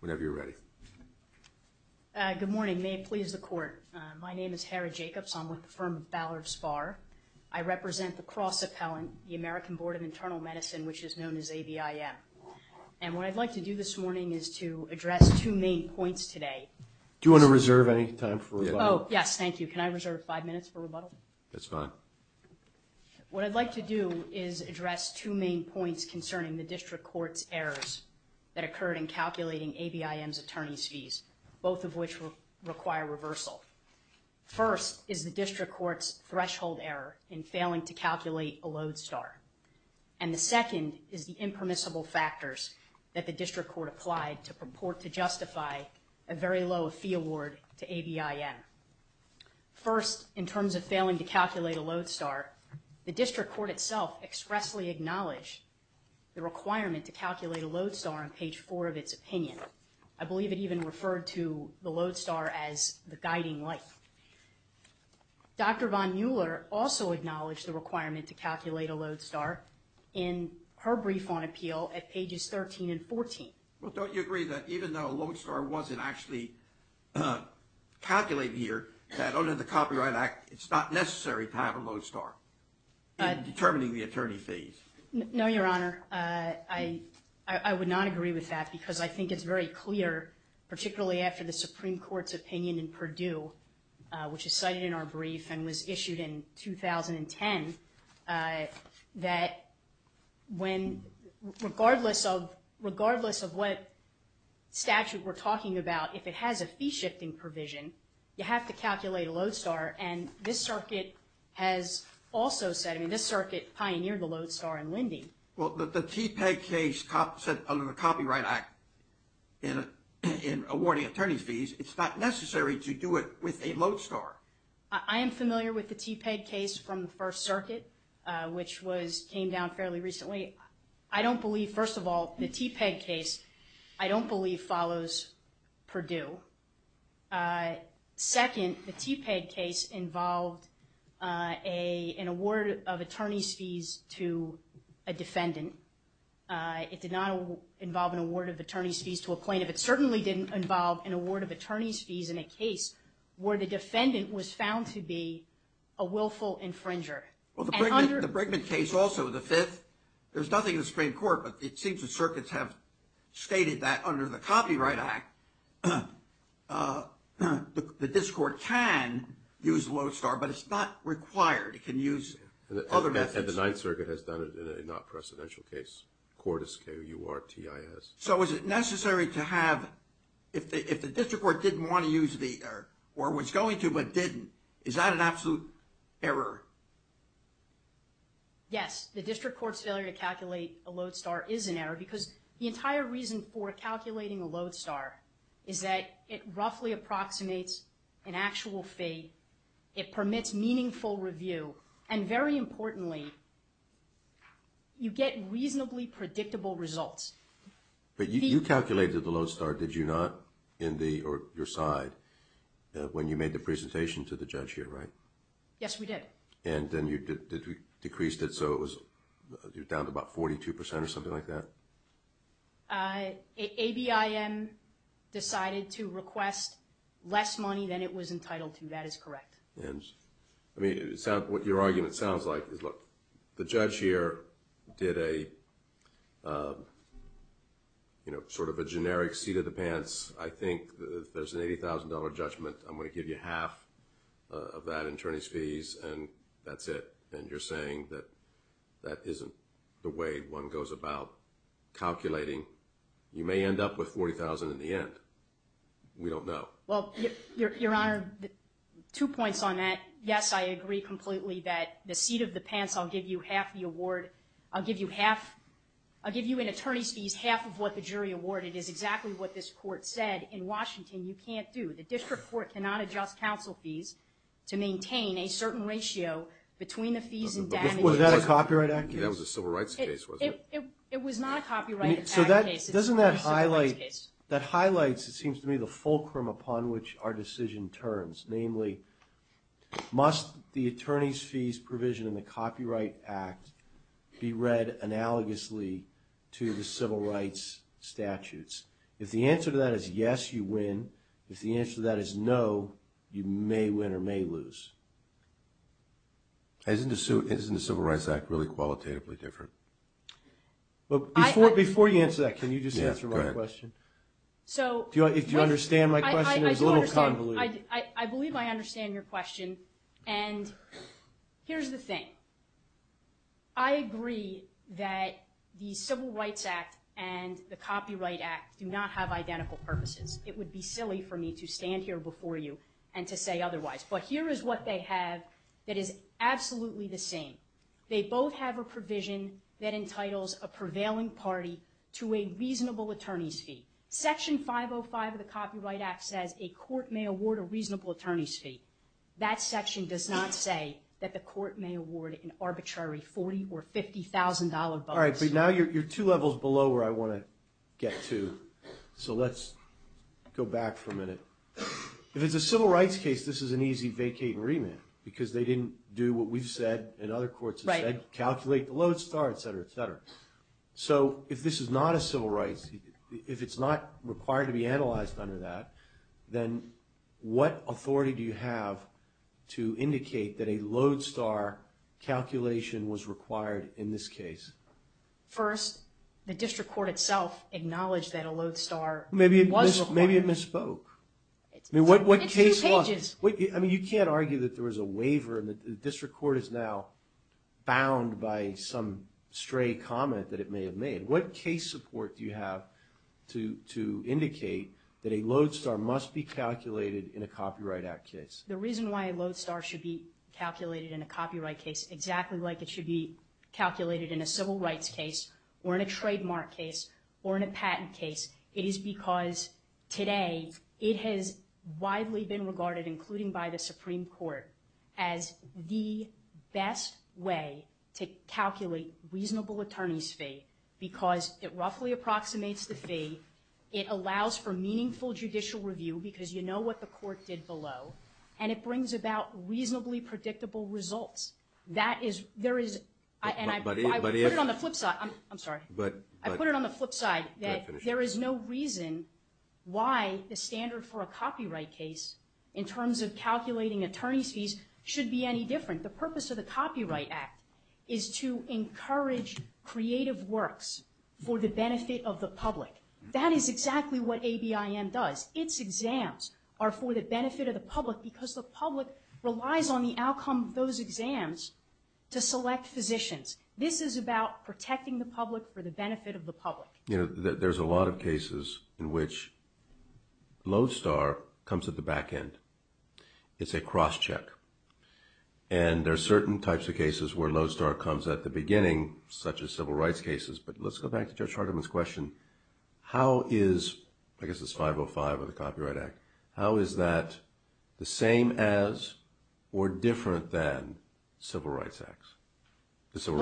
Whenever you're ready. Good morning. May it please the court. My name is Hara Jacobs. I'm with the firm Ballard Spahr. I represent the cross appellant, the American Board of Internal Medicine, which is known as ABIM. And what I'd like to do this morning is to address two main points today. Do you want to reserve any time for rebuttal? Oh yes, thank you. Can I reserve five minutes for rebuttal? That's fine. What I'd like to do is address two main points concerning the district court's errors that occurred in calculating ABIM's attorney's fees, both of which require reversal. First is the district court's threshold error in failing to calculate a load start. And the second is the impermissible factors that the district court applied to purport to justify a very low fee award to ABIM. First, in terms of failing to calculate a load start, the district court itself expressly acknowledged the requirement to calculate a load star on page four of its opinion. I believe it even referred to the load star as the guiding light. Dr. Von Mueller also acknowledged the requirement to calculate a load star in her brief on appeal at pages 13 and 14. Well, don't you agree that even though a load star wasn't actually calculated here, that under the Copyright Act, it's not necessary to have a load star? Determining the attorney fees. No, Your Honor. I would not agree with that because I think it's very clear, particularly after the Supreme Court's opinion in Purdue, which is cited in our brief and was issued in 2010, that when, regardless of what statute we're talking about, if it has a fee this circuit pioneered the load star in lending. Well, the TPEG case said under the Copyright Act in awarding attorney fees, it's not necessary to do it with a load star. I am familiar with the TPEG case from the First Circuit, which came down fairly recently. I don't believe, first of all, the TPEG case, I don't believe follows Purdue. Second, the TPEG case involved a, an award of attorney's fees to a defendant. It did not involve an award of attorney's fees to a plaintiff. It certainly didn't involve an award of attorney's fees in a case where the defendant was found to be a willful infringer. Well, the Brigman case, also the fifth, there's nothing in the Supreme Court, but it seems the circuits have stated that under the Copyright Act, the district court can use a load star, but it's not required. It can use other methods. And the Ninth Circuit has done it in a not precedential case, CORTIS, K-U-R-T-I-S. So is it necessary to have, if the district court didn't want to use the, or was going to but didn't, is that an absolute error? Yes, the district court's failure to calculate a load star is an error because the entire reason for calculating a load star is that it roughly approximates an actual fee, it permits meaningful review, and very importantly, you get reasonably predictable results. But you calculated the load star, did you not, in the, or your side, when you made the presentation to the judge here, right? Yes, we did. And then you did, decreased it so it was, you're down to about 42% or something like that? A-B-I-M decided to request less money than it was entitled to, that is correct. And, I mean, it sounds, what your argument sounds like is, look, the judge here did a, you know, sort of a generic seat of the pants, I think there's an $80,000 judgment, I'm going to give you half of that, attorney's fees, and that's it. And you're saying that isn't the way one goes about calculating, you may end up with $40,000 in the end, we don't know. Well, your honor, two points on that. Yes, I agree completely that the seat of the pants, I'll give you half the award, I'll give you half, I'll give you in attorney's fees half of what the jury awarded is exactly what this court said. In Washington, you can't do, the district court cannot adjust counsel fees to maintain a certain ratio between the fees and the fees. Was that a copyright act case? That was a civil rights case, wasn't it? It was not a copyright act case, it was a civil rights case. That highlights, it seems to me, the fulcrum upon which our decision turns. Namely, must the attorney's fees provision in the Copyright Act be read analogously to the civil rights statutes? If the answer to that is yes, you win. If the answer to that is no, you may win or may lose. Isn't the Civil Rights Act really qualitatively different? Before you answer that, can you just answer my question? If you understand my question, it was a little convoluted. I believe I understand your question, and here's the thing. I agree that the Civil Rights Act and the Copyright Act do not have and to say otherwise, but here is what they have that is absolutely the same. They both have a provision that entitles a prevailing party to a reasonable attorney's fee. Section 505 of the Copyright Act says a court may award a reasonable attorney's fee. That section does not say that the court may award an arbitrary $40,000 or $50,000 bonus. All right, but now you're two levels below where I want to get to, so let's go back for a minute. If it's a civil rights case, this is an easy vacating remit because they didn't do what we've said and other courts have said, calculate the load star, et cetera, et cetera. If this is not a civil rights, if it's not required to be analyzed under that, then what authority do you have to indicate that a load star calculation was required in this case? First, the district court itself acknowledged that a load star was required. Maybe it misspoke. It's two pages. I mean, you can't argue that there was a waiver and the district court is now bound by some stray comment that it may have made. What case support do you have to indicate that a load star must be calculated in a Copyright Act case? The reason why a load star should be calculated in a copyright case exactly like it should be calculated in a civil rights case or in a trademark case or in a patent case, it is because today it has widely been regarded, including by the Supreme Court, as the best way to calculate reasonable attorney's fee because it roughly approximates the fee. It allows for meaningful judicial review because you know what the court did below, and it brings about reasonably predictable results. That is, there is, and I put it on the flip side, I'm sorry, I put it on the flip side that there is no reason why the standard for a copyright case in terms of calculating attorney's fees should be any different. The purpose of the Copyright Act is to encourage creative works for the benefit of the public. That is exactly what ABIM does. Its exams are for the benefit of the public because the public relies on the outcome of those exams to select physicians. This is about protecting the public for the benefit of the public. You know, there's a lot of cases in which load star comes at the back end. It's a cross-check and there are certain types of cases where load But let's go back to Judge Hardiman's question. How is, I guess it's 505 of the Copyright Act, how is that the same as or different than Civil Rights Act? The Civil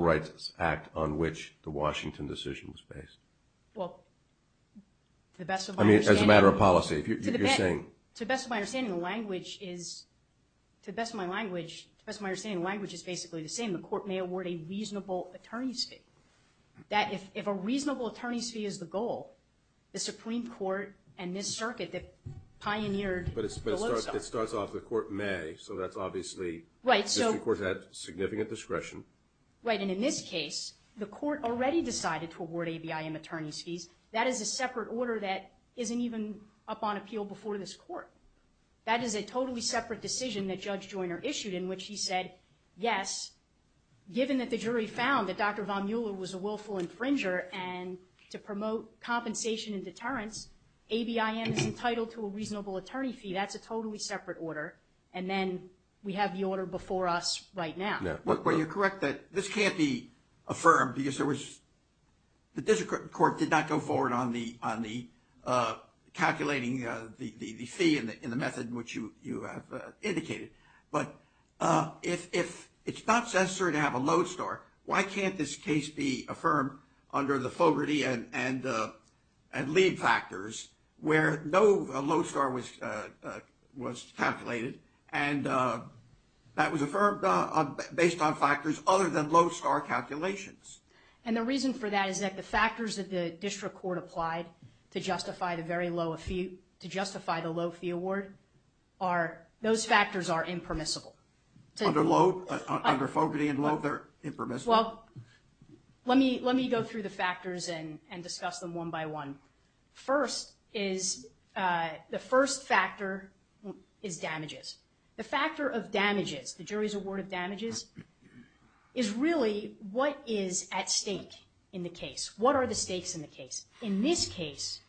Rights Act on which the Washington decision was based? Well, to the best of my understanding, I mean as a matter of policy, if you're saying, to the best of my understanding, the language is, to the best of my language, to the best of my understanding, the language is basically the same. The court may award a reasonable attorney's fee. That, if a reasonable attorney's fee is the goal, the Supreme Court and this circuit that pioneered the load star. But it starts off, the court may, so that's obviously, right, so the Supreme Court had significant discretion. Right, and in this case, the court already decided to award ABIM attorney's fees. That is a separate order that isn't even up on Yes, given that the jury found that Dr. Von Mueller was a willful infringer and to promote compensation and deterrence, ABIM is entitled to a reasonable attorney fee. That's a totally separate order, and then we have the order before us right now. Yeah, well, you're correct that this can't be affirmed because there was, the district court did not go forward on the calculating the fee in the method in which you have indicated. But if it's not necessary to have a load star, why can't this case be affirmed under the Fogarty and Lee factors where no load star was calculated and that was affirmed based on factors other than load star calculations? And the reason for that is that the factors that the district court applied to justify the very low fee, to justify the low fee award are, those factors are impermissible. Under load, under Fogarty and load, they're impermissible? Well, let me go through the factors and discuss them one by one. First is, the first factor is damages. The factor of damages, the jury's award of damages, is really what is at stake in the case. What are the stakes in the case? In this case,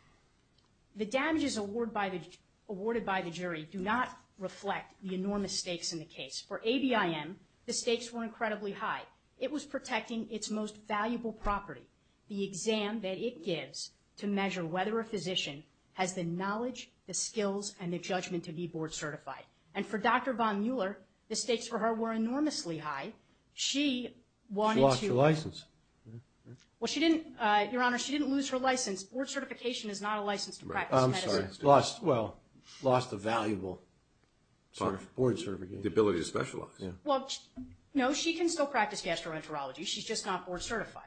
the damages awarded by the jury do not reflect the enormous stakes in the case. For ABIM, the stakes were incredibly high. It was protecting its most valuable property, the exam that it gives to measure whether a physician has the knowledge, the skills, and the judgment to be board certified. And for Dr. Von Mueller, the stakes for her were enormously high. She wanted to- She lost her license. Well, she didn't, Your Honor, she didn't lose her license. Board certification is not a license to practice medicine. I'm sorry. Lost, well, lost a valuable board certification. The ability to specialize. Well, no, she can still practice gastroenterology. She's just not board certified.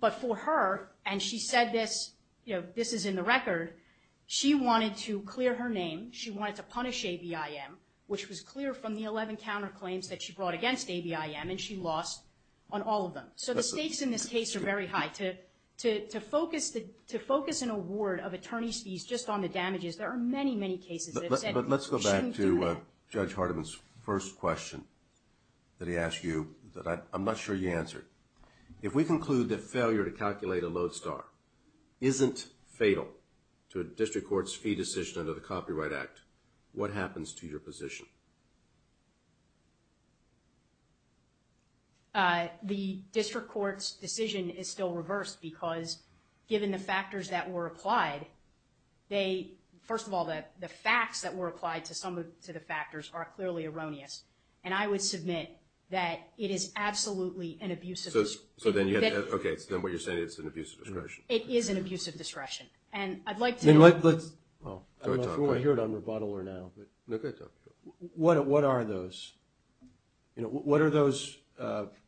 But for her, and she said this, you know, this is in the record, she wanted to clear her name. She wanted to punish ABIM, which was clear from the 11 counterclaims that she brought against ABIM, and she lost on all of them. So the stakes in this case are very high. To focus an award of attorney's fees just on the damages, there are many, many cases that have said- But let's go back to Judge Hardiman's first question that he asked you that I'm not sure you answered. If we conclude that failure to calculate a lodestar isn't fatal to a district court's fee decision under the Copyright Act, what happens to your position? The district court's decision is still reversed because given the factors that were applied, they, first of all, the facts that were applied to some of the factors are clearly erroneous. And I would submit that it is absolutely an abusive- So then you have, okay, so then what you're saying is it's an abusive discretion. It is an abusive discretion. And I'd like to- Well, I don't know if you want to hear it on rebuttal or now, but what are those? What are those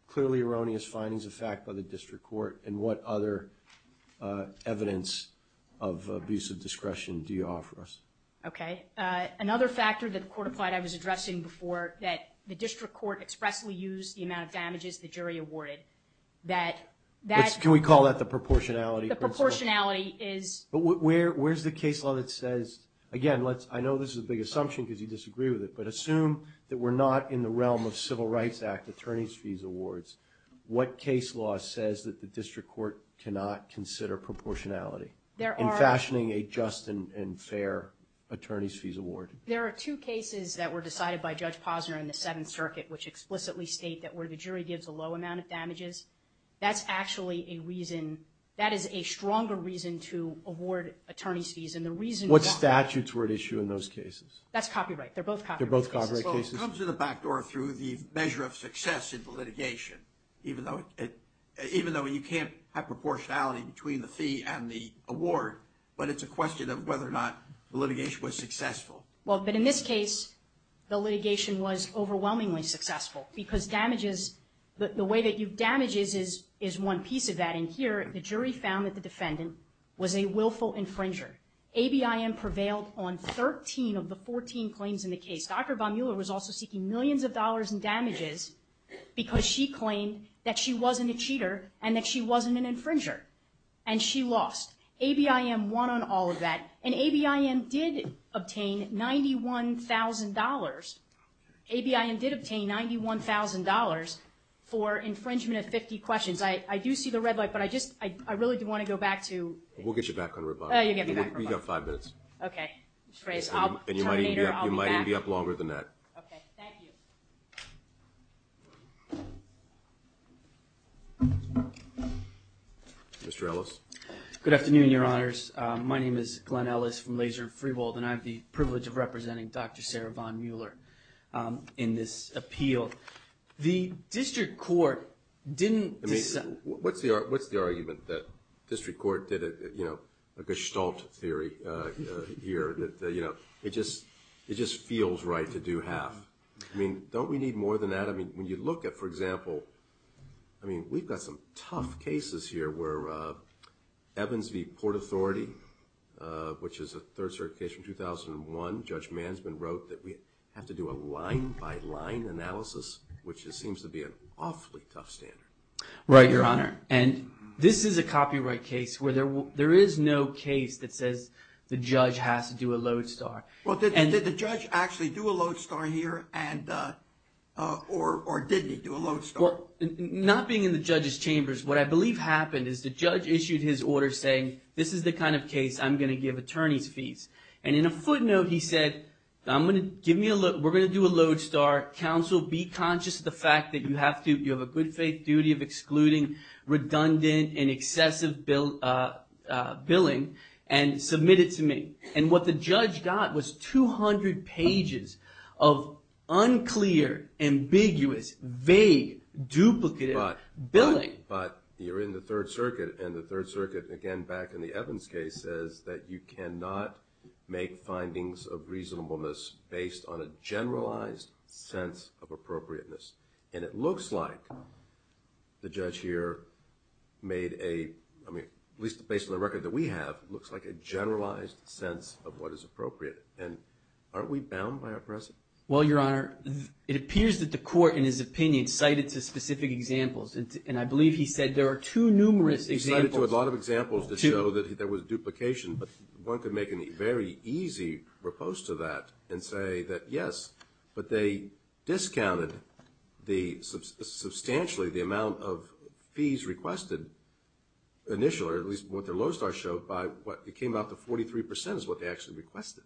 clearly erroneous findings of fact by the district court, and what other evidence of abusive discretion do you offer us? Okay. Another factor that the court applied, I was addressing before, that the district court expressly used the amount of damages the jury awarded, that that- Can we call that the proportionality principle? The proportionality is- Where's the case law that says, again, I know this is a big assumption because you disagree with it, but assume that we're not in the realm of Civil Rights Act attorney's fees awards, what case law says that the district court cannot consider proportionality in fashioning a just and fair attorney's fees award? There are two cases that were decided by Judge Posner in the Seventh Circuit which explicitly state that where the jury gives a low amount of damages, that's actually a reason, to award attorney's fees, and the reason- What statutes were at issue in those cases? That's copyright. They're both copyright. They're both copyright cases. It comes to the back door through the measure of success in the litigation, even though you can't have proportionality between the fee and the award, but it's a question of whether or not the litigation was successful. Well, but in this case, the litigation was overwhelmingly successful because damages, the way that you damage is one piece of that. In here, the jury found that the defendant was a willful infringer. ABIM prevailed on 13 of the 14 claims in the case. Dr. Baumuller was also seeking millions of dollars in damages because she claimed that she wasn't a cheater and that she wasn't an infringer, and she lost. ABIM won on all of that, and ABIM did obtain $91,000. ABIM did obtain $91,000 for infringement of 50 questions. I do see the red light, but I just, I really do want to go back to- We'll get you back on rebuttal. Oh, you'll get me back on rebuttal. You have five minutes. Okay, Mr. Reyes. I'll terminate her. I'll be back. You might even be up longer than that. Okay. Thank you. Mr. Ellis. Good afternoon, Your Honors. My name is Glenn Ellis from Laser Freehold, and I have the privilege of representing Dr. Sarah von Mueller in this appeal. The district court didn't- What's the argument that district court did a gestalt theory here? It just feels right to do half. Don't we need more than that? When you look at, for example, we've got some tough cases here where Evans v. Port Authority, which is a third circuit case from 2001. Judge Mansman wrote that we have to do a line-by-line analysis, which just seems to be an awfully tough standard. Right, Your Honor. And this is a copyright case where there is no case that says the judge has to do a lodestar. Well, did the judge actually do a lodestar here, or did he do a lodestar? Well, not being in the judge's chambers, what I believe happened is the judge issued his order saying, this is the kind of case I'm going to give attorneys fees. And in a footnote, he said, we're going to do a lodestar. Counsel, be conscious of the fact that you have a good faith duty of excluding redundant and excessive billing, and submit it to me. And what the judge got was 200 pages of unclear, ambiguous, vague, duplicative billing. But you're in the third circuit, and the third circuit, again, back in the Evans case, says that you cannot make findings of reasonableness based on a generalized sense of appropriateness. And it looks like the judge here made a, at least based on the record that we have, looks like a generalized sense of what is appropriate. And aren't we bound by our precedent? Well, Your Honor, it appears that the court, in his opinion, cited two specific examples. And I believe he said there are two numerous examples. He cited a lot of examples to show that there was duplication. But one could make a very easy repose to that and say that, yes, but they discounted the substantially the amount of fees requested initially, or at least what their lodestar showed by what came out to 43% is what they actually requested.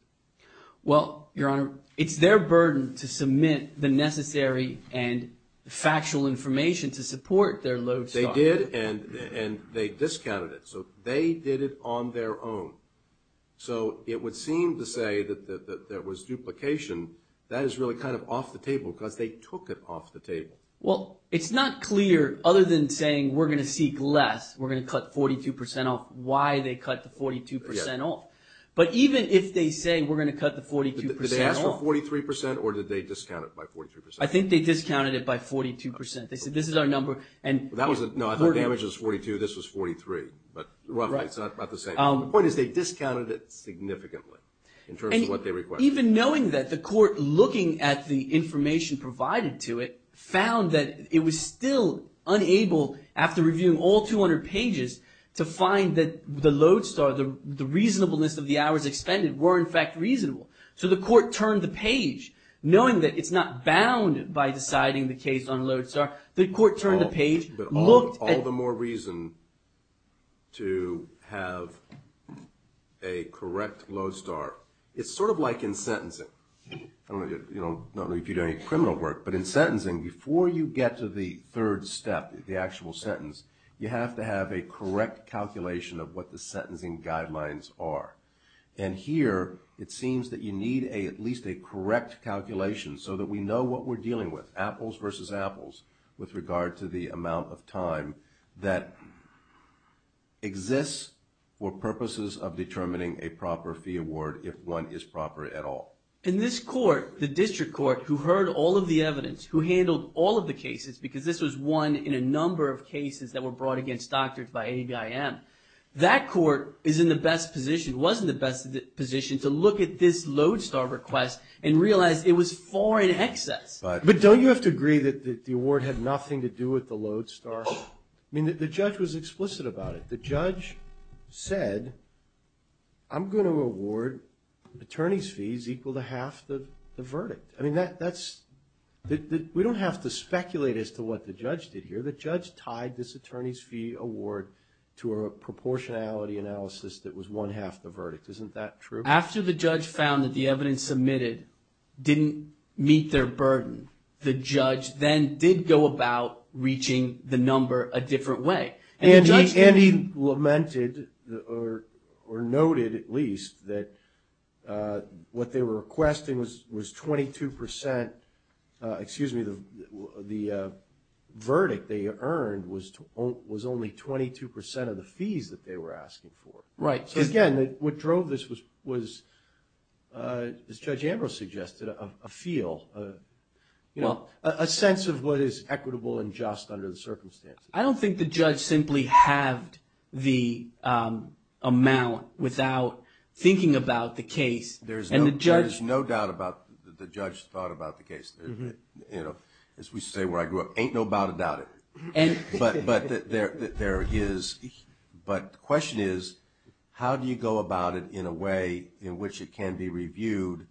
Well, Your Honor, it's their burden to submit the necessary and factual information to support their lodestar. They did, and they discounted it. So they did it on their own. So it would seem to say that there was duplication. That is really kind of off the table, because they took it off the table. Well, it's not clear, other than saying, we're going to seek less, we're going to cut 42% off, why they cut the 42% off. But even if they say, we're going to cut the 42% off. Did they ask for 43% or did they discount it by 43%? I think they discounted it by 42%. They said, this is our number. That wasn't, no, I thought the average was 42, this was 43. But roughly, it's about the same. The point is they discounted it significantly, in terms of what they requested. Even knowing that, the court, looking at the information provided to it, found that it was still unable, after reviewing all 200 pages, to find that the lodestar, the reasonableness of the hours expended, were in fact reasonable. So the court turned the page, knowing that it's not bound by deciding the case on lodestar. The court turned the page, looked at- All the more reason to have a correct lodestar. It's sort of like in sentencing. I don't know if you do any criminal work, but in sentencing, before you get to the third step, the actual sentence, you have to have a correct calculation of what the sentencing guidelines are. And here, it seems that you need at least a correct calculation, so that we know what we're dealing with. Apples versus apples, with regard to the amount of time that exists for purposes of determining a proper fee award, if one is proper at all. In this court, the district court, who heard all of the evidence, who handled all of the cases, because this was one in a number of cases that were brought against doctors by the district court, was in the best position to look at this lodestar request and realize it was four in excess. But don't you have to agree that the award had nothing to do with the lodestar? The judge was explicit about it. The judge said, I'm going to award attorney's fees equal to half the verdict. We don't have to speculate as to what the judge did here. The judge tied this attorney's fee award to a proportionality analysis that was one half the verdict. Isn't that true? After the judge found that the evidence submitted didn't meet their burden, the judge then did go about reaching the number a different way. And he lamented, or noted at least, that what they were requesting was 22 percent, excuse me, the verdict they earned was only 22 percent of the fees that they were asking for. Right. Again, what drove this was, as Judge Ambrose suggested, a feel, a sense of what is equitable and just under the circumstances. I don't think the judge simply halved the amount without thinking about the case. There is no doubt about the judge's thought about the case. As we say where I grew up, ain't no doubt about it. But the question is, how do you go about it in a way in which it can be reviewed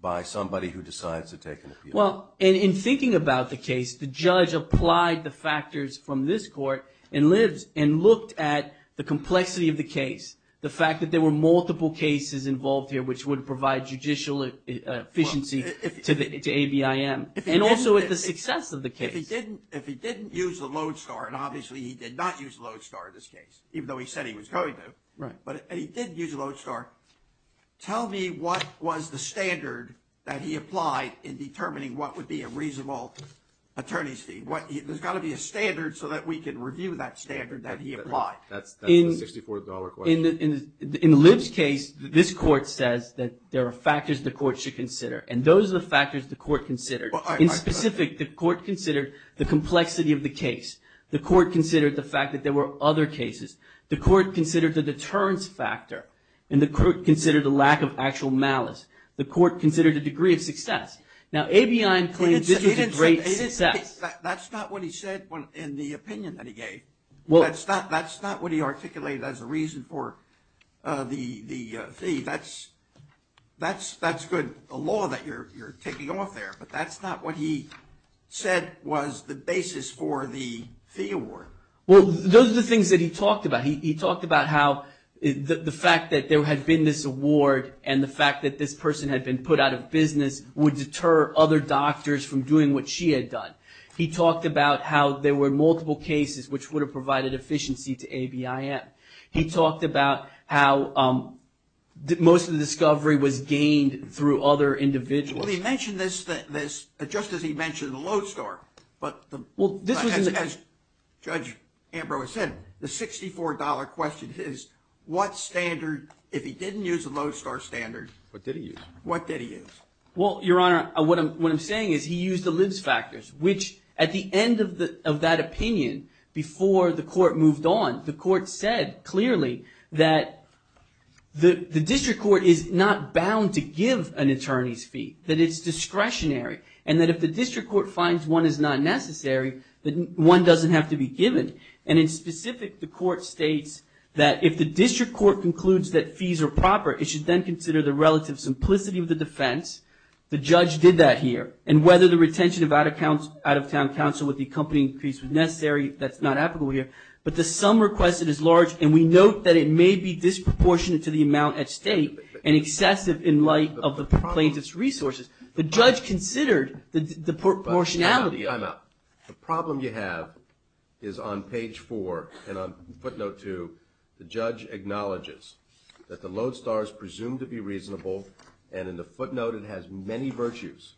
by somebody who decides to take an appeal? Well, in thinking about the case, the judge applied the factors from this court and looked at the complexity of the case, the fact that there were multiple cases involved here which would provide judicial efficiency to ABIM, and also at the success of the case. If he didn't use a lodestar, and obviously he did not use a lodestar in this case, even though he said he was going to, but he did use a lodestar, tell me what was the standard that he applied in determining what would be a reasonable attorney's fee? There's got to be a standard so that we can review that standard that he applied. That's a $64 question. In Liv's case, this court says that there are factors the court should consider, and those are the factors the court considered. In specific, the court considered the complexity of the case. The court considered the fact that there were other cases. The court considered the deterrence factor, and the court considered the lack of actual malice. The court considered the degree of success. Now, ABIM claims this was a great success. That's not what he said in the opinion that he gave. That's not what he articulated as a reason for the fee. That's good, the law that you're taking off there, but that's not what he said was the basis for the fee award. Well, those are the things that he talked about. He talked about how the fact that there had been this award and the fact that this person had been put out of business would deter other doctors from doing what she had done. He talked about how there were multiple cases which would have provided efficiency to ABIM. He talked about how most of the discovery was gained through other individuals. Well, he mentioned this just as he mentioned the lodestar, but as Judge Ambrose said, the $64 question is what standard, if he didn't use the lodestar standard, what did he use? Well, Your Honor, what I'm saying is he used the lives factors, which at the end of that opinion, before the court moved on, the court said clearly that the district court is not bound to give an attorney's fee, that it's discretionary, and that if the district court finds one is not necessary, then one doesn't have to be given, and in specific, the court states that if the district court concludes that fees are proper, it should then consider the relative simplicity of the defense. The judge did that here, and whether the retention of out-of-town counsel with the company increase was necessary, that's not applicable here, but the sum requested is large, and we note that it may be disproportionate to the amount at state, and excessive in light of the plaintiff's resources. The judge considered the proportionality. I'm out. The problem you have is on page 4, and on footnote 2, the judge acknowledges that the lodestar is presumed to be reasonable, and in the footnote, it has many virtues,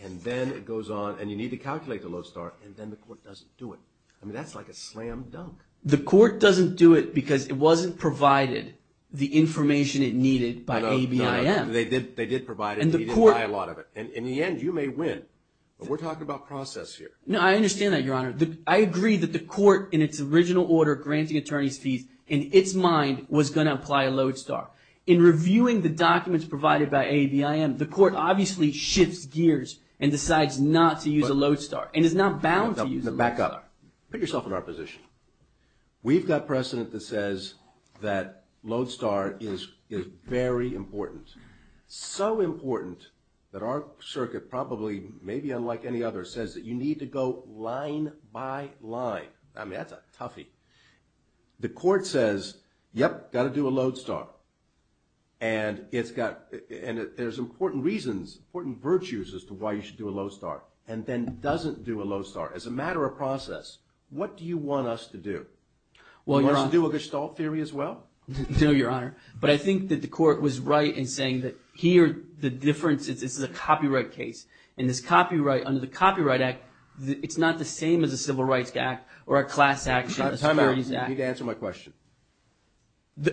and then it goes on, and you need to calculate the lodestar, and then the court doesn't do it. I mean, that's like a slam dunk. The court doesn't do it because it wasn't provided the information it needed by ABIM. They did provide it, but they didn't buy a lot of it, and in the end, you may win, but we're talking about process here. No, I understand that, Your Honor. I agree that the court, in its original order granting attorney's fees, in its mind, was going to apply a lodestar. In reviewing the documents provided by ABIM, the court obviously shifts gears and decides not to use a lodestar, and is not bound to use a lodestar. Back up. Put yourself in our position. We've got precedent that says that lodestar is very important. So important that our circuit probably, maybe unlike any other, says that you need to go line by line. I mean, that's a toughie. The court says, yep, got to do a lodestar, and there's important reasons, important virtues as to why you should do a lodestar, and then doesn't do a lodestar. As a matter of process, what do you want us to do? Do you want us to do a Gestalt theory as well? No, Your Honor. But I think that the court was right in saying that here, the difference, this is a copyright case, and this copyright, under the Copyright Act, it's not the same as a Civil Rights Act or a class action. Time out. You need to answer my question.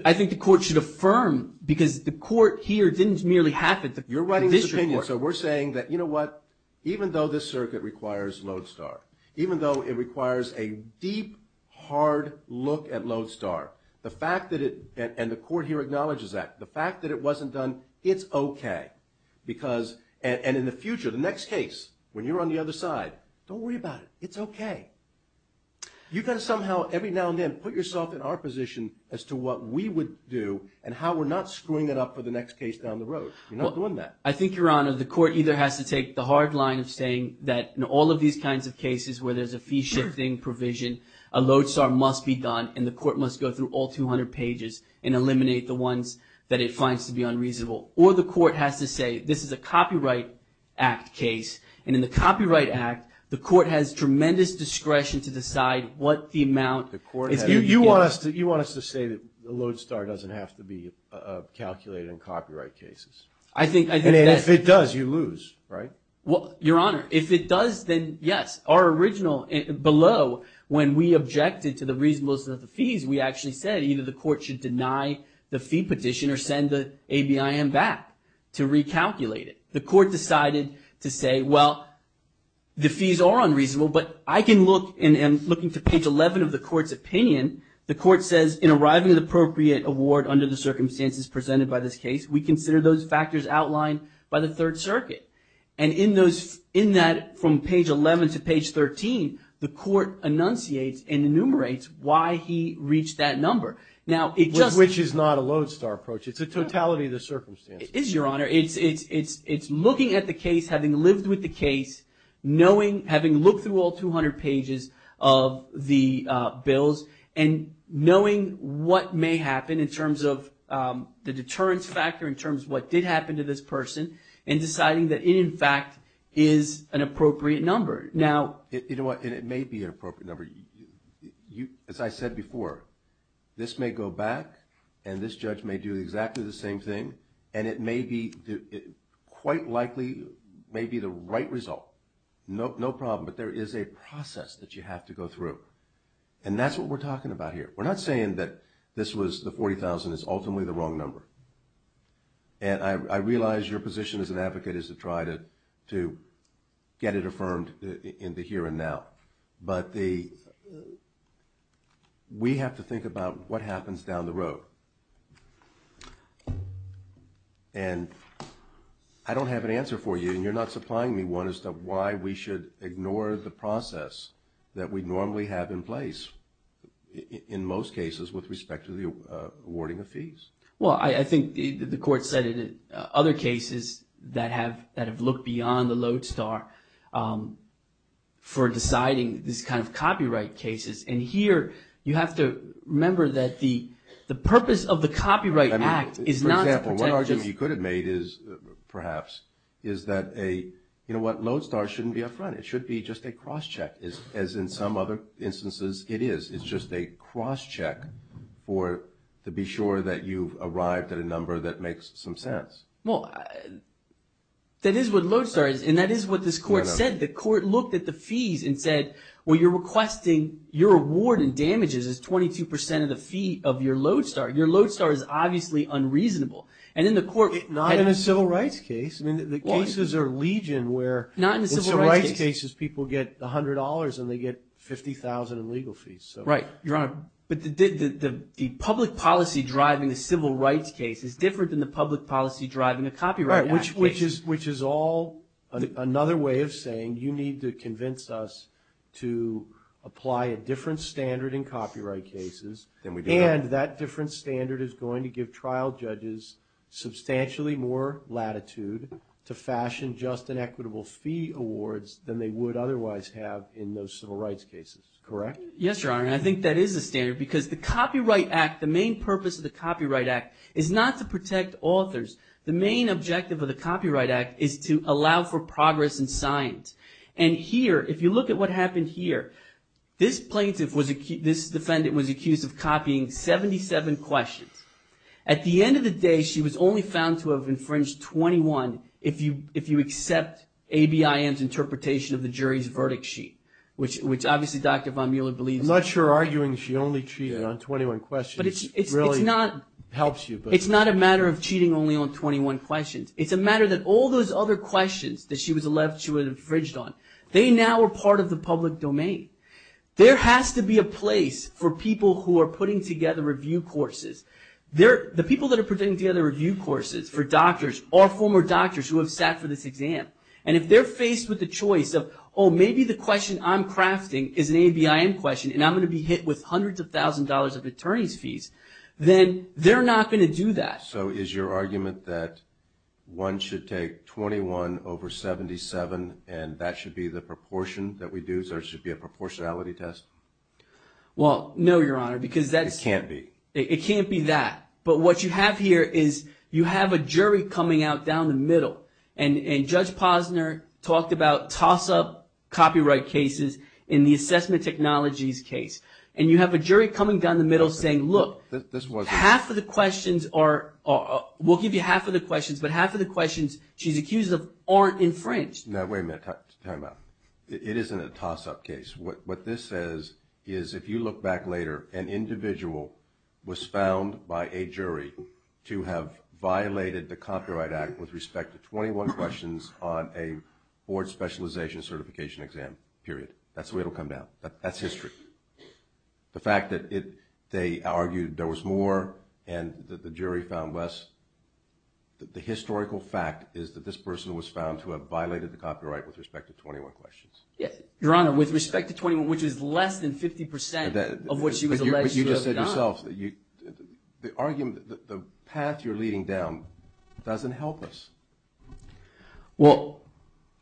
I think the court should affirm, because the court here didn't merely happen to... You're writing this opinion, so we're saying that, you know what? Even though this circuit requires lodestar, even though it requires a deep, hard look at lodestar, the fact that it, and the court here acknowledges that, the fact that it wasn't done, it's okay. Because, and in the future, the next case, when you're on the other side, don't worry about it. It's okay. You've got to somehow, every now and then, put yourself in our position as to what we would do, and how we're not screwing it up for the next case down the road. You're not doing that. I think, Your Honor, the court either has to take the hard line of saying that in all of these kinds of cases where there's a fee-shifting provision, a lodestar must be done, and the court must go through all 200 pages and eliminate the ones that it finds to be unreasonable. Or the court has to say, this is a Copyright Act case, and in the Copyright Act, the court has tremendous discretion to decide what the amount is. You want us to say that the lodestar doesn't have to be calculated in copyright cases? I think that's... And if it does, you lose, right? Well, Your Honor, if it does, then yes. Our original, below, when we objected to the reasonableness of the fees, we actually said either the court should deny the fee petition or send the ABIM back to recalculate it. The court decided to say, well, the fees are unreasonable, but I can look, and looking to page 11 of the court's opinion, the court says, in arriving at the appropriate award under the circumstances presented by this case, we consider those factors outlined by the Third Circuit. And in that, from page 11 to page 13, the court enunciates and enumerates why he reached that number. Now, it just... Which is not a lodestar approach. It's a totality of the circumstances. It is, Your Honor. It's looking at the case, having lived with the case, having looked through all 200 pages of the bills, and knowing what may happen in terms of the deterrence factor, in terms of what did happen to this person, and deciding that it, in fact, is an appropriate number. Now... You know what? And it may be an appropriate number. As I said before, this may go back, and this judge may do exactly the same thing, and it may be, quite likely, may be the right result. No problem. But there is a process that you have to go through. And that's what we're talking about here. We're not saying that this was, the $40,000 is ultimately the wrong number. And I realize your position as an advocate is to try to get it affirmed in the here and But we have to think about what happens down the road. And I don't have an answer for you, and you're not supplying me one, as to why we should ignore the process that we normally have in place, in most cases, with respect to the awarding of fees. Well, I think the Court said in other cases that have looked beyond the Lodestar for deciding this kind of copyright cases. And here, you have to remember that the purpose of the Copyright Act is not to protect just I mean, for example, one argument you could have made is, perhaps, is that a, you know what, Lodestar shouldn't be up front. It should be just a cross-check, as in some other instances it is. It's just a cross-check for, to be sure that you've arrived at a number that makes some sense. Well, that is what Lodestar is, and that is what this Court said. The Court looked at the fees and said, well, you're requesting, your award and damages is 22% of the fee of your Lodestar. Your Lodestar is obviously unreasonable. And then the Court- Not in a civil rights case. I mean, the cases are legion, where- Not in a civil rights case. In civil rights cases, people get $100, and they get $50,000 in legal fees, so- Right, Your Honor. a Copyright Act case. Which is all another way of saying, you need to convince us to apply a different standard in copyright cases, and that different standard is going to give trial judges substantially more latitude to fashion just and equitable fee awards than they would otherwise have in those civil rights cases, correct? Yes, Your Honor, and I think that is a standard, because the Copyright Act, the main purpose of the Copyright Act is not to protect authors. The main objective of the Copyright Act is to allow for progress in science. And here, if you look at what happened here, this plaintiff was, this defendant was accused of copying 77 questions. At the end of the day, she was only found to have infringed 21, if you accept ABIM's interpretation of the jury's verdict sheet, which obviously Dr. von Mueller believes- I'm not sure arguing she only cheated on 21 questions- Really helps you, but- It's not a matter of cheating only on 21 questions. It's a matter that all those other questions that she was alleged to have infringed on, they now are part of the public domain. There has to be a place for people who are putting together review courses. The people that are putting together review courses for doctors are former doctors who have sat for this exam. And if they're faced with the choice of, oh, maybe the question I'm crafting is an $100,000 of attorney's fees, then they're not going to do that. So is your argument that one should take 21 over 77 and that should be the proportion that we do? So it should be a proportionality test? Well, no, Your Honor, because that's- It can't be. It can't be that. But what you have here is you have a jury coming out down the middle. And Judge Posner talked about toss-up copyright cases in the assessment technologies case. And you have a jury coming down the middle saying, look, half of the questions are- we'll give you half of the questions, but half of the questions she's accused of aren't infringed. Now, wait a minute, time out. It isn't a toss-up case. What this says is if you look back later, an individual was found by a jury to have violated the Copyright Act with respect to 21 questions on a board specialization certification exam, period. That's the way it'll come down. That's history. The fact that they argued there was more and that the jury found less, the historical fact is that this person was found to have violated the copyright with respect to 21 questions. Yes, Your Honor, with respect to 21, which is less than 50% of what she was alleged to have done. But you just said yourself, the argument, the path you're leading down doesn't help us. Well,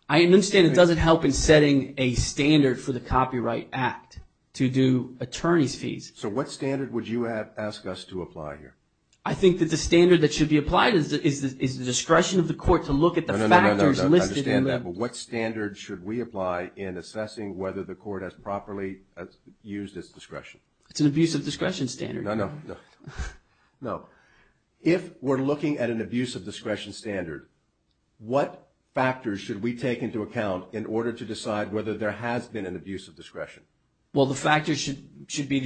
I understand it doesn't help in setting a standard for the Copyright Act to do attorney's fees. So what standard would you ask us to apply here? I think that the standard that should be applied is the discretion of the court to look at No, no, no, no, I understand that, but what standard should we apply in assessing whether the court has properly used its discretion? It's an abuse of discretion standard. No, no, no, no. If we're looking at an abuse of discretion standard, what factors should we take into account in order to decide whether there has been an abuse of discretion? Well, the factors should be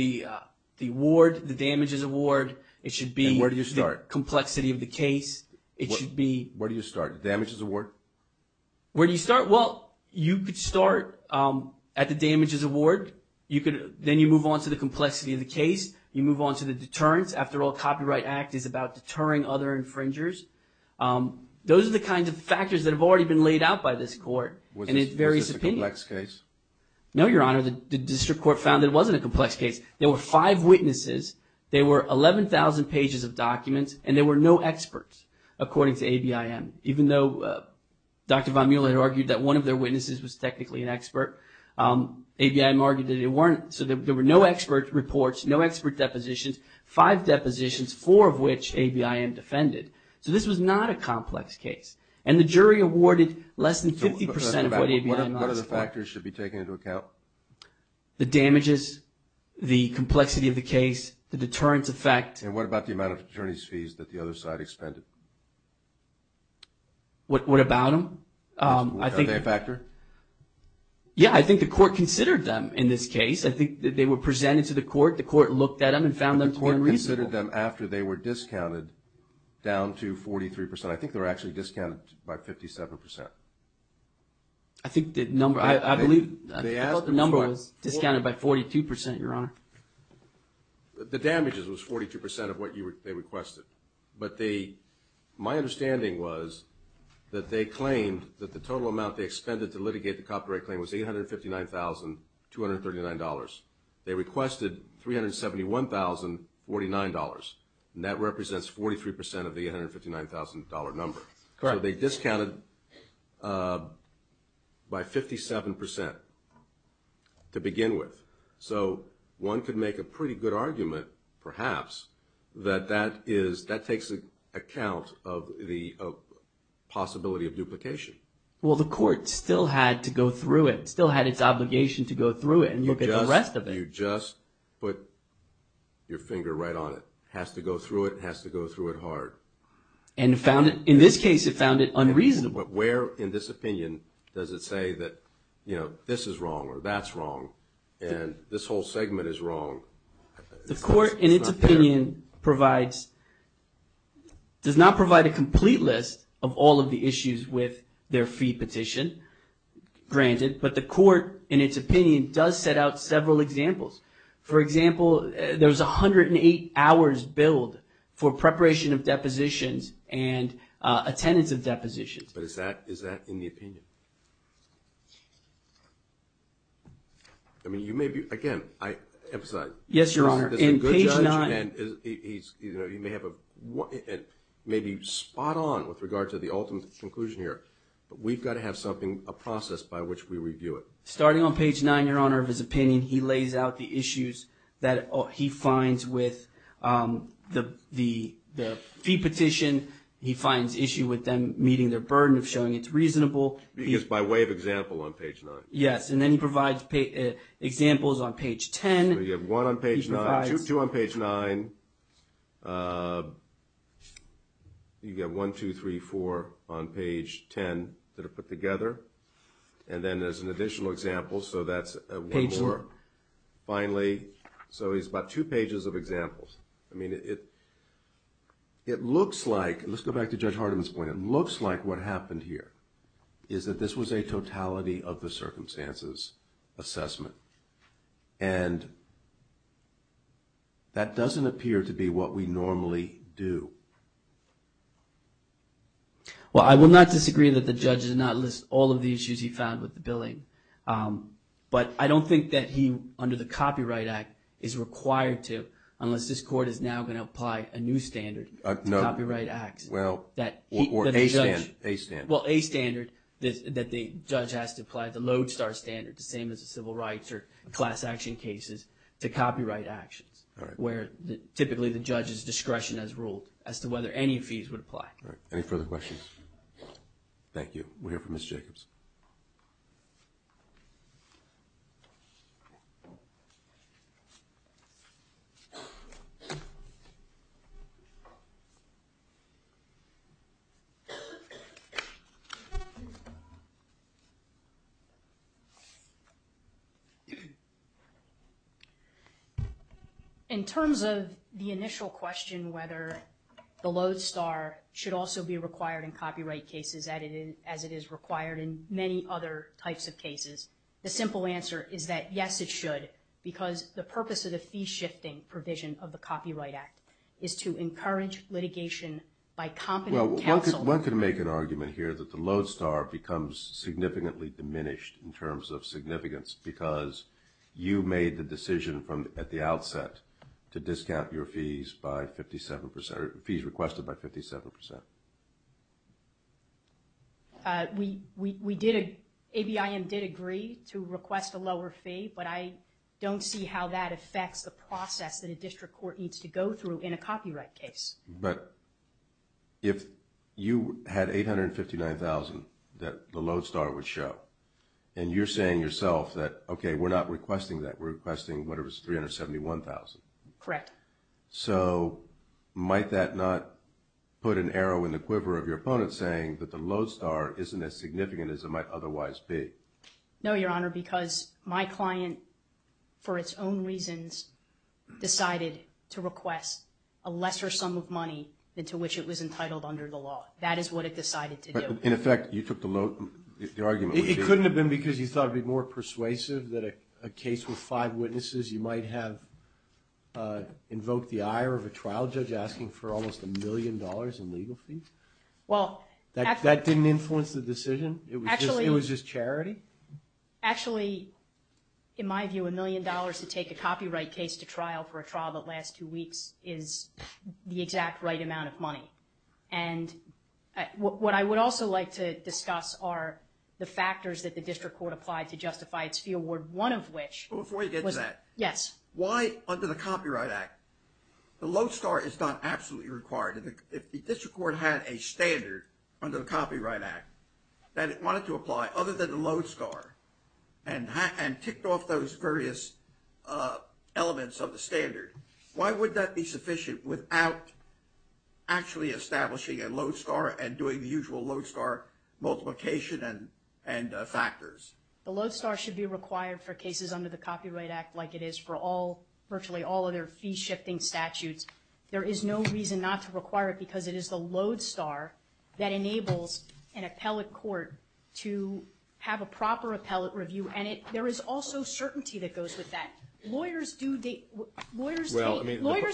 the award, the damages award. It should be... And where do you start? Complexity of the case. It should be... Where do you start? The damages award? Where do you start? Well, you could start at the damages award. Then you move on to the complexity of the case. You move on to the deterrence. After all, Copyright Act is about deterring other infringers. Those are the kinds of factors that have already been laid out by this court, and it varies... Was this a complex case? No, Your Honor. The district court found that it wasn't a complex case. There were five witnesses. There were 11,000 pages of documents, and there were no experts, according to ABIM, even though Dr. Von Muehle had argued that one of their witnesses was technically an expert. ABIM argued that it weren't. So there were no expert reports, no expert depositions, five depositions, four of which ABIM defended. So this was not a complex case. And the jury awarded less than 50% of what ABIM asked for. What are the factors should be taken into account? The damages, the complexity of the case, the deterrence effect. And what about the amount of attorney's fees that the other side expended? What about them? I think... Are they a factor? Yeah, I think the court considered them in this case. I think that they were presented to the court. The court looked at them and found them to be unreasonable. The court considered them after they were discounted down to 43%. I think they were actually discounted by 57%. I think the number... I believe... They asked for... I thought the number was discounted by 42%, Your Honor. The damages was 42% of what they requested. But they... My understanding was that they claimed that the total amount they expended to the jury to litigate the copyright claim was $859,239. They requested $371,049. That represents 43% of the $859,000 number. Correct. They discounted by 57% to begin with. So one could make a pretty good argument, perhaps, that that is... That takes account of the possibility of duplication. Well, the court still had to go through it, still had its obligation to go through it and look at the rest of it. You just put your finger right on it. Has to go through it, has to go through it hard. And found it... In this case, it found it unreasonable. But where, in this opinion, does it say that, you know, this is wrong or that's wrong? And this whole segment is wrong. The court, in its opinion, provides... the issues with their fee petition, granted. But the court, in its opinion, does set out several examples. For example, there's 108 hours billed for preparation of depositions and attendance of depositions. But is that in the opinion? I mean, you may be... Again, I emphasize... Yes, Your Honor. In page 9... And he's, you know, he may have a... maybe spot on with regard to the ultimate conclusion here. But we've got to have something, a process by which we review it. Starting on page 9, Your Honor, of his opinion, he lays out the issues that he finds with the fee petition. He finds issue with them meeting their burden of showing it's reasonable. Because by way of example on page 9. You have one on page 9. Two on page 9. You've got one, two, three, four on page 10 that are put together. And then there's an additional example. So that's one more. Finally, so he's got two pages of examples. I mean, it looks like... Let's go back to Judge Hardiman's point. It looks like what happened here is that this was a totality of the circumstances assessment. And that doesn't appear to be what we normally do. Well, I will not disagree that the judge did not list all of the issues he found with the billing. But I don't think that he, under the Copyright Act, is required to, unless this court is now going to apply a new standard to copyright acts. Well, or a standard. Well, a standard that the judge has to apply. The Lodestar standard. The same as the civil rights or class action cases to copyright actions. All right. Where typically the judge's discretion has ruled as to whether any fees would apply. All right. Any further questions? Thank you. We'll hear from Ms. Jacobs. In terms of the initial question whether the Lodestar should also be required in copyright cases as it is required in many other types of cases, the simple answer is that yes, it should. Because the purpose of the fee shifting provision of the Copyright Act is to encourage litigation by competent counsel. Well, one could make an argument here that the Lodestar becomes significantly diminished in terms of significance. Because you made the decision at the outset to discount your fees by 57%, or fees requested by 57%. We did, ABIM did agree to request a lower fee. But I don't see how that affects the process that a district court needs to go through in a copyright case. But if you had $859,000 that the Lodestar would show, and you're saying yourself that, OK, we're not requesting that. We're requesting whatever is $371,000. Correct. So might that not put an arrow in the quiver of your opponent saying that the Lodestar isn't as significant as it might otherwise be? No, Your Honor. Because my client, for its own reasons, decided to request a lesser sum of money than to which it was entitled under the law. That is what it decided to do. In effect, you took the argument. It couldn't have been because you thought it would be more persuasive that a case with five witnesses, you might have invoked the ire of a trial judge asking for almost a million dollars in legal fees? Well, actually. That didn't influence the decision? It was just charity? Actually, in my view, a million dollars to take a copyright case to trial for a trial that lasts two weeks is the exact right amount of money. And what I would also like to discuss are the factors that the district court applied to justify its fee award, one of which was... But before you get to that... Yes. Why under the Copyright Act, the Lodestar is not absolutely required. If the district court had a standard under the Copyright Act that it wanted to apply other than the Lodestar and ticked off those various elements of the standard, why would that be sufficient without actually establishing a Lodestar and doing the usual Lodestar multiplication and factors? The Lodestar should be required for cases under the Copyright Act like it is for virtually all other fee-shifting statutes. There is no reason not to require it because it is the Lodestar that enables an appellate court to have a proper appellate review. And there is also certainty that goes with that. Lawyers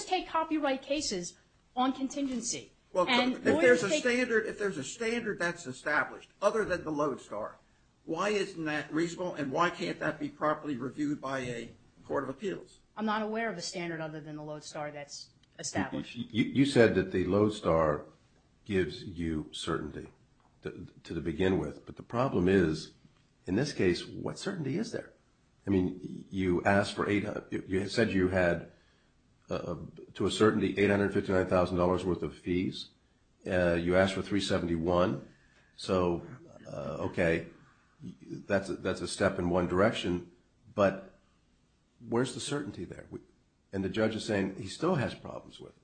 take copyright cases on contingency. Well, if there's a standard that's established other than the Lodestar, why isn't that reasonable? And why can't that be properly reviewed by a court of appeals? I'm not aware of a standard other than the Lodestar that's established. You said that the Lodestar gives you certainty to begin with. But the problem is, in this case, what certainty is there? I mean, you said you had, to a certainty, $859,000 worth of fees. You asked for $371,000. So, okay, that's a step in one direction. But where's the certainty there? And the judge is saying he still has problems with it.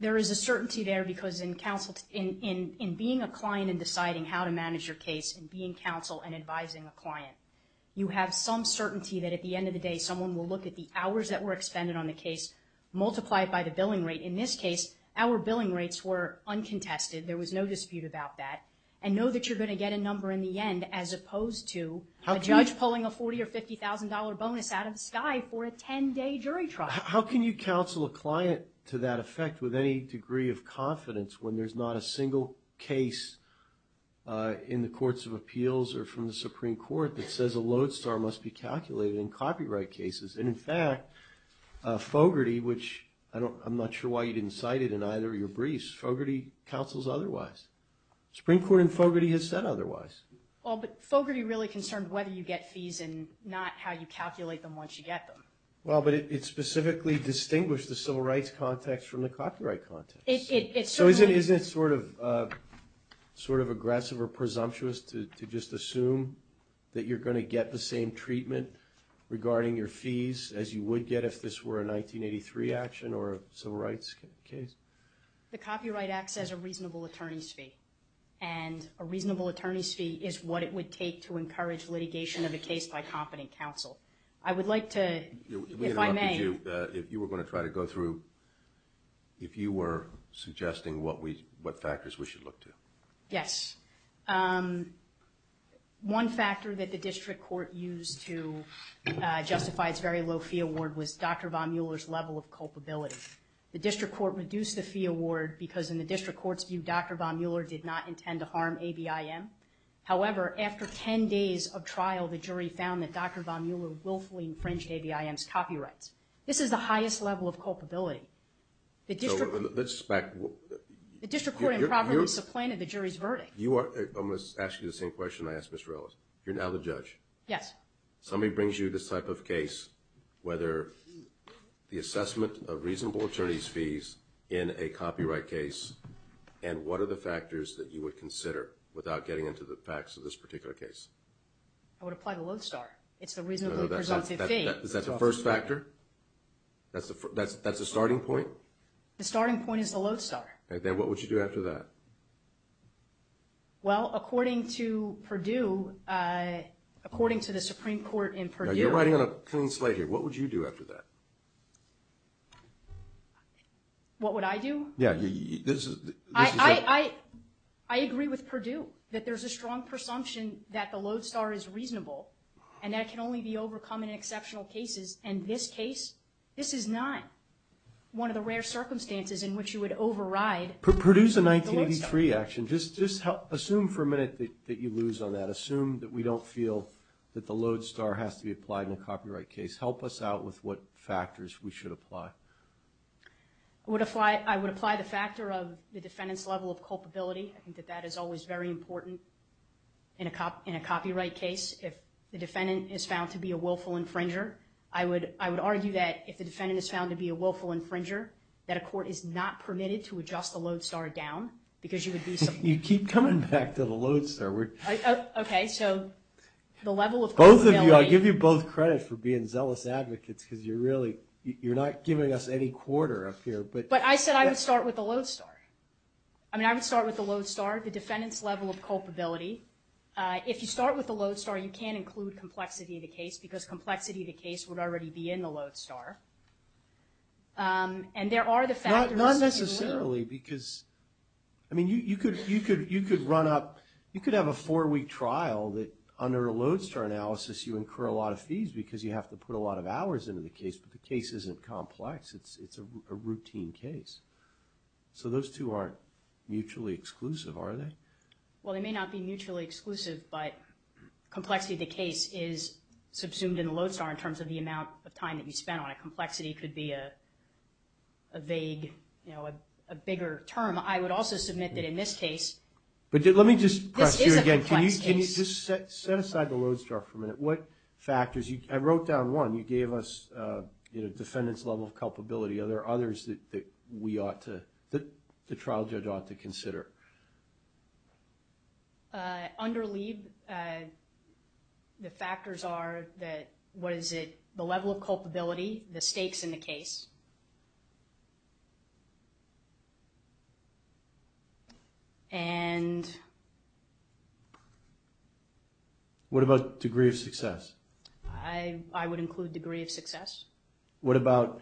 There is a certainty there because in being a client and deciding how to manage your case, and being counsel and advising a client, you have some certainty that at the end of the day, someone will look at the hours that were expended on the case, multiply it by the billing rate. In this case, our billing rates were uncontested. There was no dispute about that. And know that you're gonna get a number in the end as opposed to a judge pulling a $40,000 or $50,000 bonus out of the sky for a 10-day jury trial. How can you counsel a client to that effect with any degree of confidence when there's not a single case in the courts of appeals or from the Supreme Court that says a Lodestar must be calculated in copyright cases? And in fact, Fogarty, which I'm not sure why you didn't cite it in either of your briefs, Fogarty counsels otherwise. Supreme Court in Fogarty has said otherwise. Well, but Fogarty really concerned whether you get fees and not how you calculate them once you get them. Well, but it specifically distinguished the civil rights context from the copyright context. So isn't it sort of aggressive or presumptuous to just assume that you're gonna get the same treatment regarding your fees as you would get if this were a 1983 action or a civil rights case? The Copyright Act says a reasonable attorney's fee. And a reasonable attorney's fee is what it would take to encourage litigation of a case by competent counsel. I would like to, if I may. If you were gonna try to go through, if you were suggesting what factors we should look to. Yes. One factor that the district court used to justify its very low fee award was Dr. Von Mueller's level of culpability. The district court reduced the fee award because in the district court's view, Dr. Von Mueller did not intend to harm ABIM. However, after 10 days of trial, the jury found that Dr. Von Mueller willfully infringed ABIM's copyrights. This is the highest level of culpability. The district court improperly supplanted the jury's verdict. You are, I'm gonna ask you the same question I asked Mr. Ellis. You're now the judge. Yes. Somebody brings you this type of case, whether the assessment of reasonable attorney's fees in a copyright case, and what are the factors that you would consider without getting into the facts of this particular case? I would apply the Lodestar. It's the reasonably presumptive fee. Is that the first factor? That's the starting point? The starting point is the Lodestar. Then what would you do after that? Well, according to Purdue, according to the Supreme Court in Purdue. You're writing on a clean slate here. What would you do after that? What would I do? Yeah, this is... I agree with Purdue that there's a strong presumption that the Lodestar is reasonable, and that it can only be overcome in exceptional cases. In this case, this is not one of the rare circumstances in which you would override the Lodestar. Purdue's a 1983 action. Just assume for a minute that you lose on that. Assume that we don't feel that the Lodestar has to be applied in a copyright case. Help us out with what factors we should apply. I would apply the factor of the defendant's level of culpability. I think that that is always very important in a copyright case. If the defendant is found to be a willful infringer, I would argue that if the defendant is found to be a willful infringer, that a court is not permitted to adjust the Lodestar down because you would be... You keep coming back to the Lodestar. Okay, so the level of culpability... Both of you. I give you both credit for being zealous advocates because you're really... You're not giving us any quarter up here. But I said I would start with the Lodestar. I mean, I would start with the Lodestar, the defendant's level of culpability. If you start with the Lodestar, you can include complexity of the case because complexity of the case would already be in the Lodestar. And there are the factors... Not necessarily because... I mean, you could run up... You could have a four-week trial that under a Lodestar analysis, you incur a lot of fees because you have to put a lot of hours into the case, but the case isn't complex. It's a routine case. So those two aren't mutually exclusive, are they? Well, they may not be mutually exclusive, but complexity of the case is subsumed in the Lodestar in terms of the amount of time that you spend on it. Complexity could be a vague, you know, a bigger term. I would also submit that in this case... Let me just press you again. This is a complex case. Can you just set aside the Lodestar for a minute? What factors... I wrote down one. You gave us, you know, defendant's level of culpability. Are there others that we ought to... that the trial judge ought to consider? Under LEAD, the factors are that... What is it? The level of culpability, the stakes in the case. And... What about degree of success? I would include degree of success. What about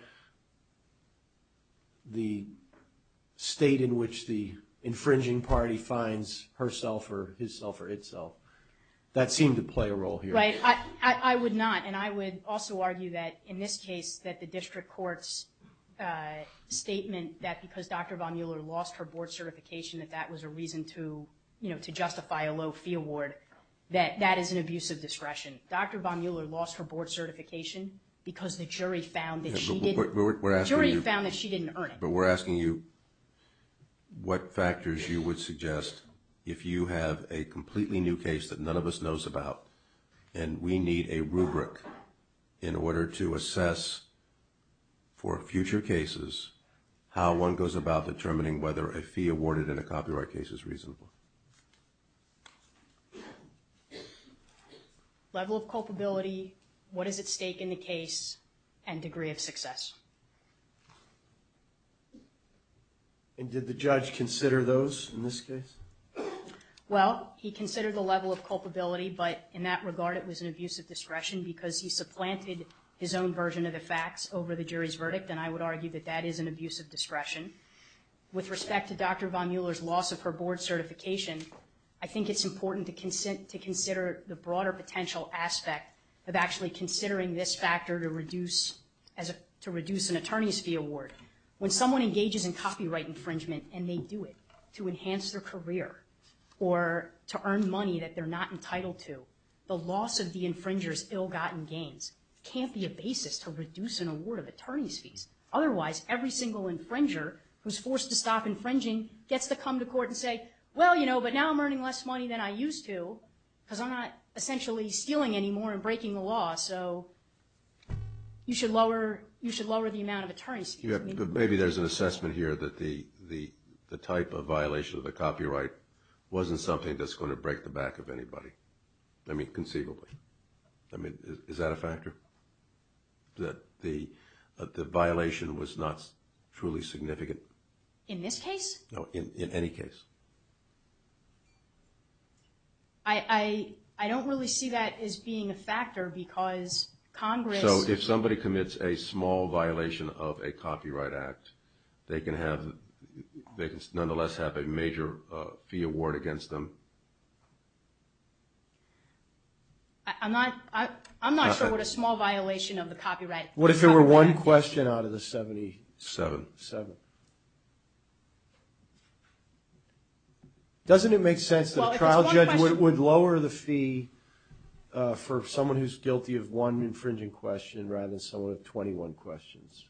the state in which the infringing party finds herself or his self or itself? That seemed to play a role here. Right. in this case that the district court says that the defendant is not guilty of the crime. And in this statement, that because Dr. Von Mueller lost her board certification, that that was a reason to, you know, to justify a low fee award, that that is an abuse of discretion. Dr. Von Mueller lost her board certification because the jury found that she didn't... But we're asking you... The jury found that she didn't earn it. But we're asking you what factors you would suggest if you have a completely new case that none of us knows about and we need a rubric in order to assess for future cases, how one goes about determining whether a fee awarded in a copyright case is reasonable. Level of culpability, what is at stake in the case, and degree of success. And did the judge consider those in this case? Well, he considered the level of culpability, but in that regard, it was an abuse of discretion because he supplanted his own version of the facts over the jury's verdict, and I would argue that that is an abuse of discretion. With respect to Dr. Von Mueller's loss of her board certification, I think it's important to consider the broader potential aspect of actually considering this factor to reduce an attorney's fee award. When someone engages in copyright infringement, and they do it to enhance their career or to earn money that they're not entitled to, the loss of the infringer's ill-gotten gains can't be a basis to reduce an award of attorney's fees. Otherwise, every single infringer who's forced to stop infringing gets to come to court and say, well, you know, but now I'm earning less money than I used to because I'm not essentially stealing anymore and breaking the law, so you should lower the amount of attorney's fees. Maybe there's an assessment here that the type of violation of the copyright wasn't something that's going to break the back of anybody, I mean, conceivably. I mean, is that a factor? That the violation was not truly significant? In this case? No, in any case. I don't really see that as being a factor because Congress... So if somebody commits a small violation of a copyright act, they can have, they can nonetheless have a major fee award against them. I'm not sure what a small violation of the copyright... What if there were one question out of the 77? Doesn't it make sense that a trial judge would lower the fee for someone who's guilty of one infringing question rather than someone with 21 questions?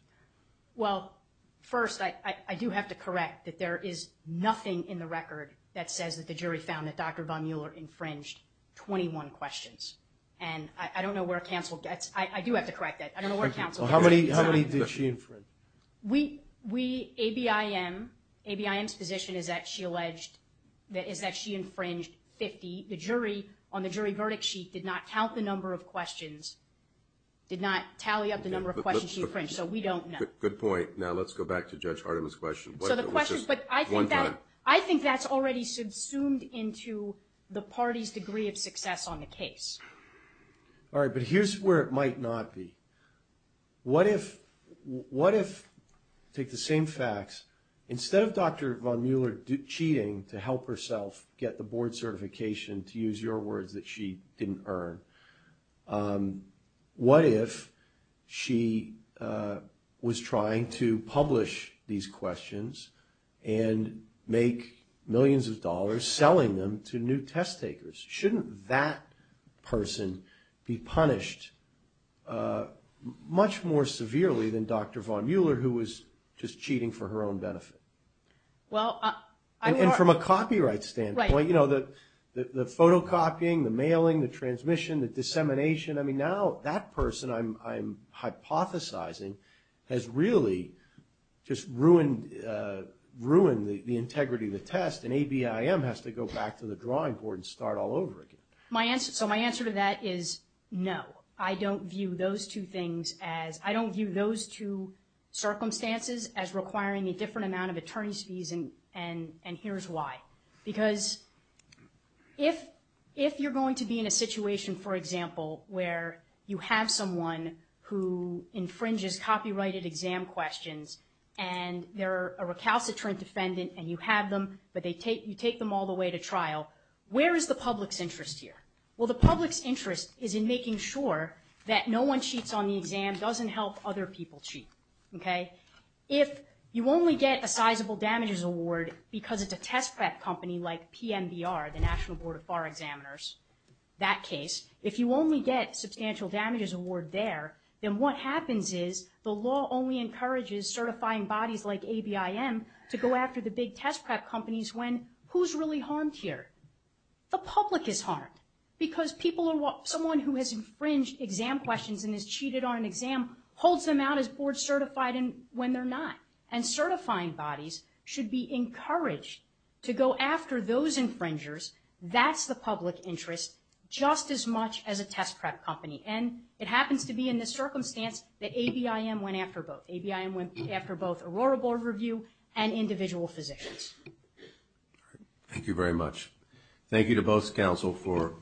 Well, first, I do have to correct that there is nothing in the record that says that the jury found that Dr. Von Mueller infringed 21 questions. And I don't know where counsel gets... I do have to correct that. I don't know where counsel... How many did she infringe? We, ABIM's position is that she alleged, is that she infringed 50. The jury, on the jury verdict sheet, did not count the number of questions, did not tally up the number of questions she infringed. So we don't know. Good point. Now let's go back to Judge Hardeman's question. So the question, but I think that's already subsumed into the party's degree of success on the case. All right, but here's where it might not be. What if, what if, take the same facts, instead of Dr. Von Mueller cheating to help herself get the board certification, to use your words, that she didn't earn, what if she was trying to publish these questions and make millions of dollars selling them to new test takers? Shouldn't that person be punished much more severely than Dr. Von Mueller, who was just cheating for her own benefit? Well, and from a copyright standpoint, you know, the photocopying, the mailing, the transmission, the dissemination, I mean now that person I'm hypothesizing has really just ruined, ruined the integrity of the test and ABIM has to go back to the drawing board and start all over again. My answer, so my answer to that is no. I don't view those two things as, I don't view those two circumstances as requiring a different amount of attorney's fees and here's why. Because if you're going to be in a situation, for example, where you have someone who infringes copyrighted exam questions and they're a recalcitrant defendant and you have them, but you take them all the way to trial, where is the public's interest here? Well, the public's interest is in making sure that no one cheats on the exam, doesn't help other people cheat, okay? If you only get a sizable damages award because it's a test prep company like PMDR, the National Board of Bar Examiners, that case, if you only get substantial damages award there, then what happens is the law only encourages certifying bodies like ABIM to go after the big test prep companies when who's really harmed here? The public is harmed because people are, someone who has infringed exam questions and has cheated on an exam holds them out as board certified and when they're not. And certifying bodies should be encouraged to go after those infringers. That's the public interest just as much as a test prep company. And it happens to be in this circumstance that ABIM went after both. ABIM went after both Aurora Board of Review and individual physicians. All right. Thank you very much. Thank you to both council for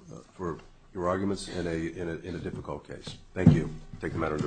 your arguments in a difficult case. Thank you. Take the matter into advisement.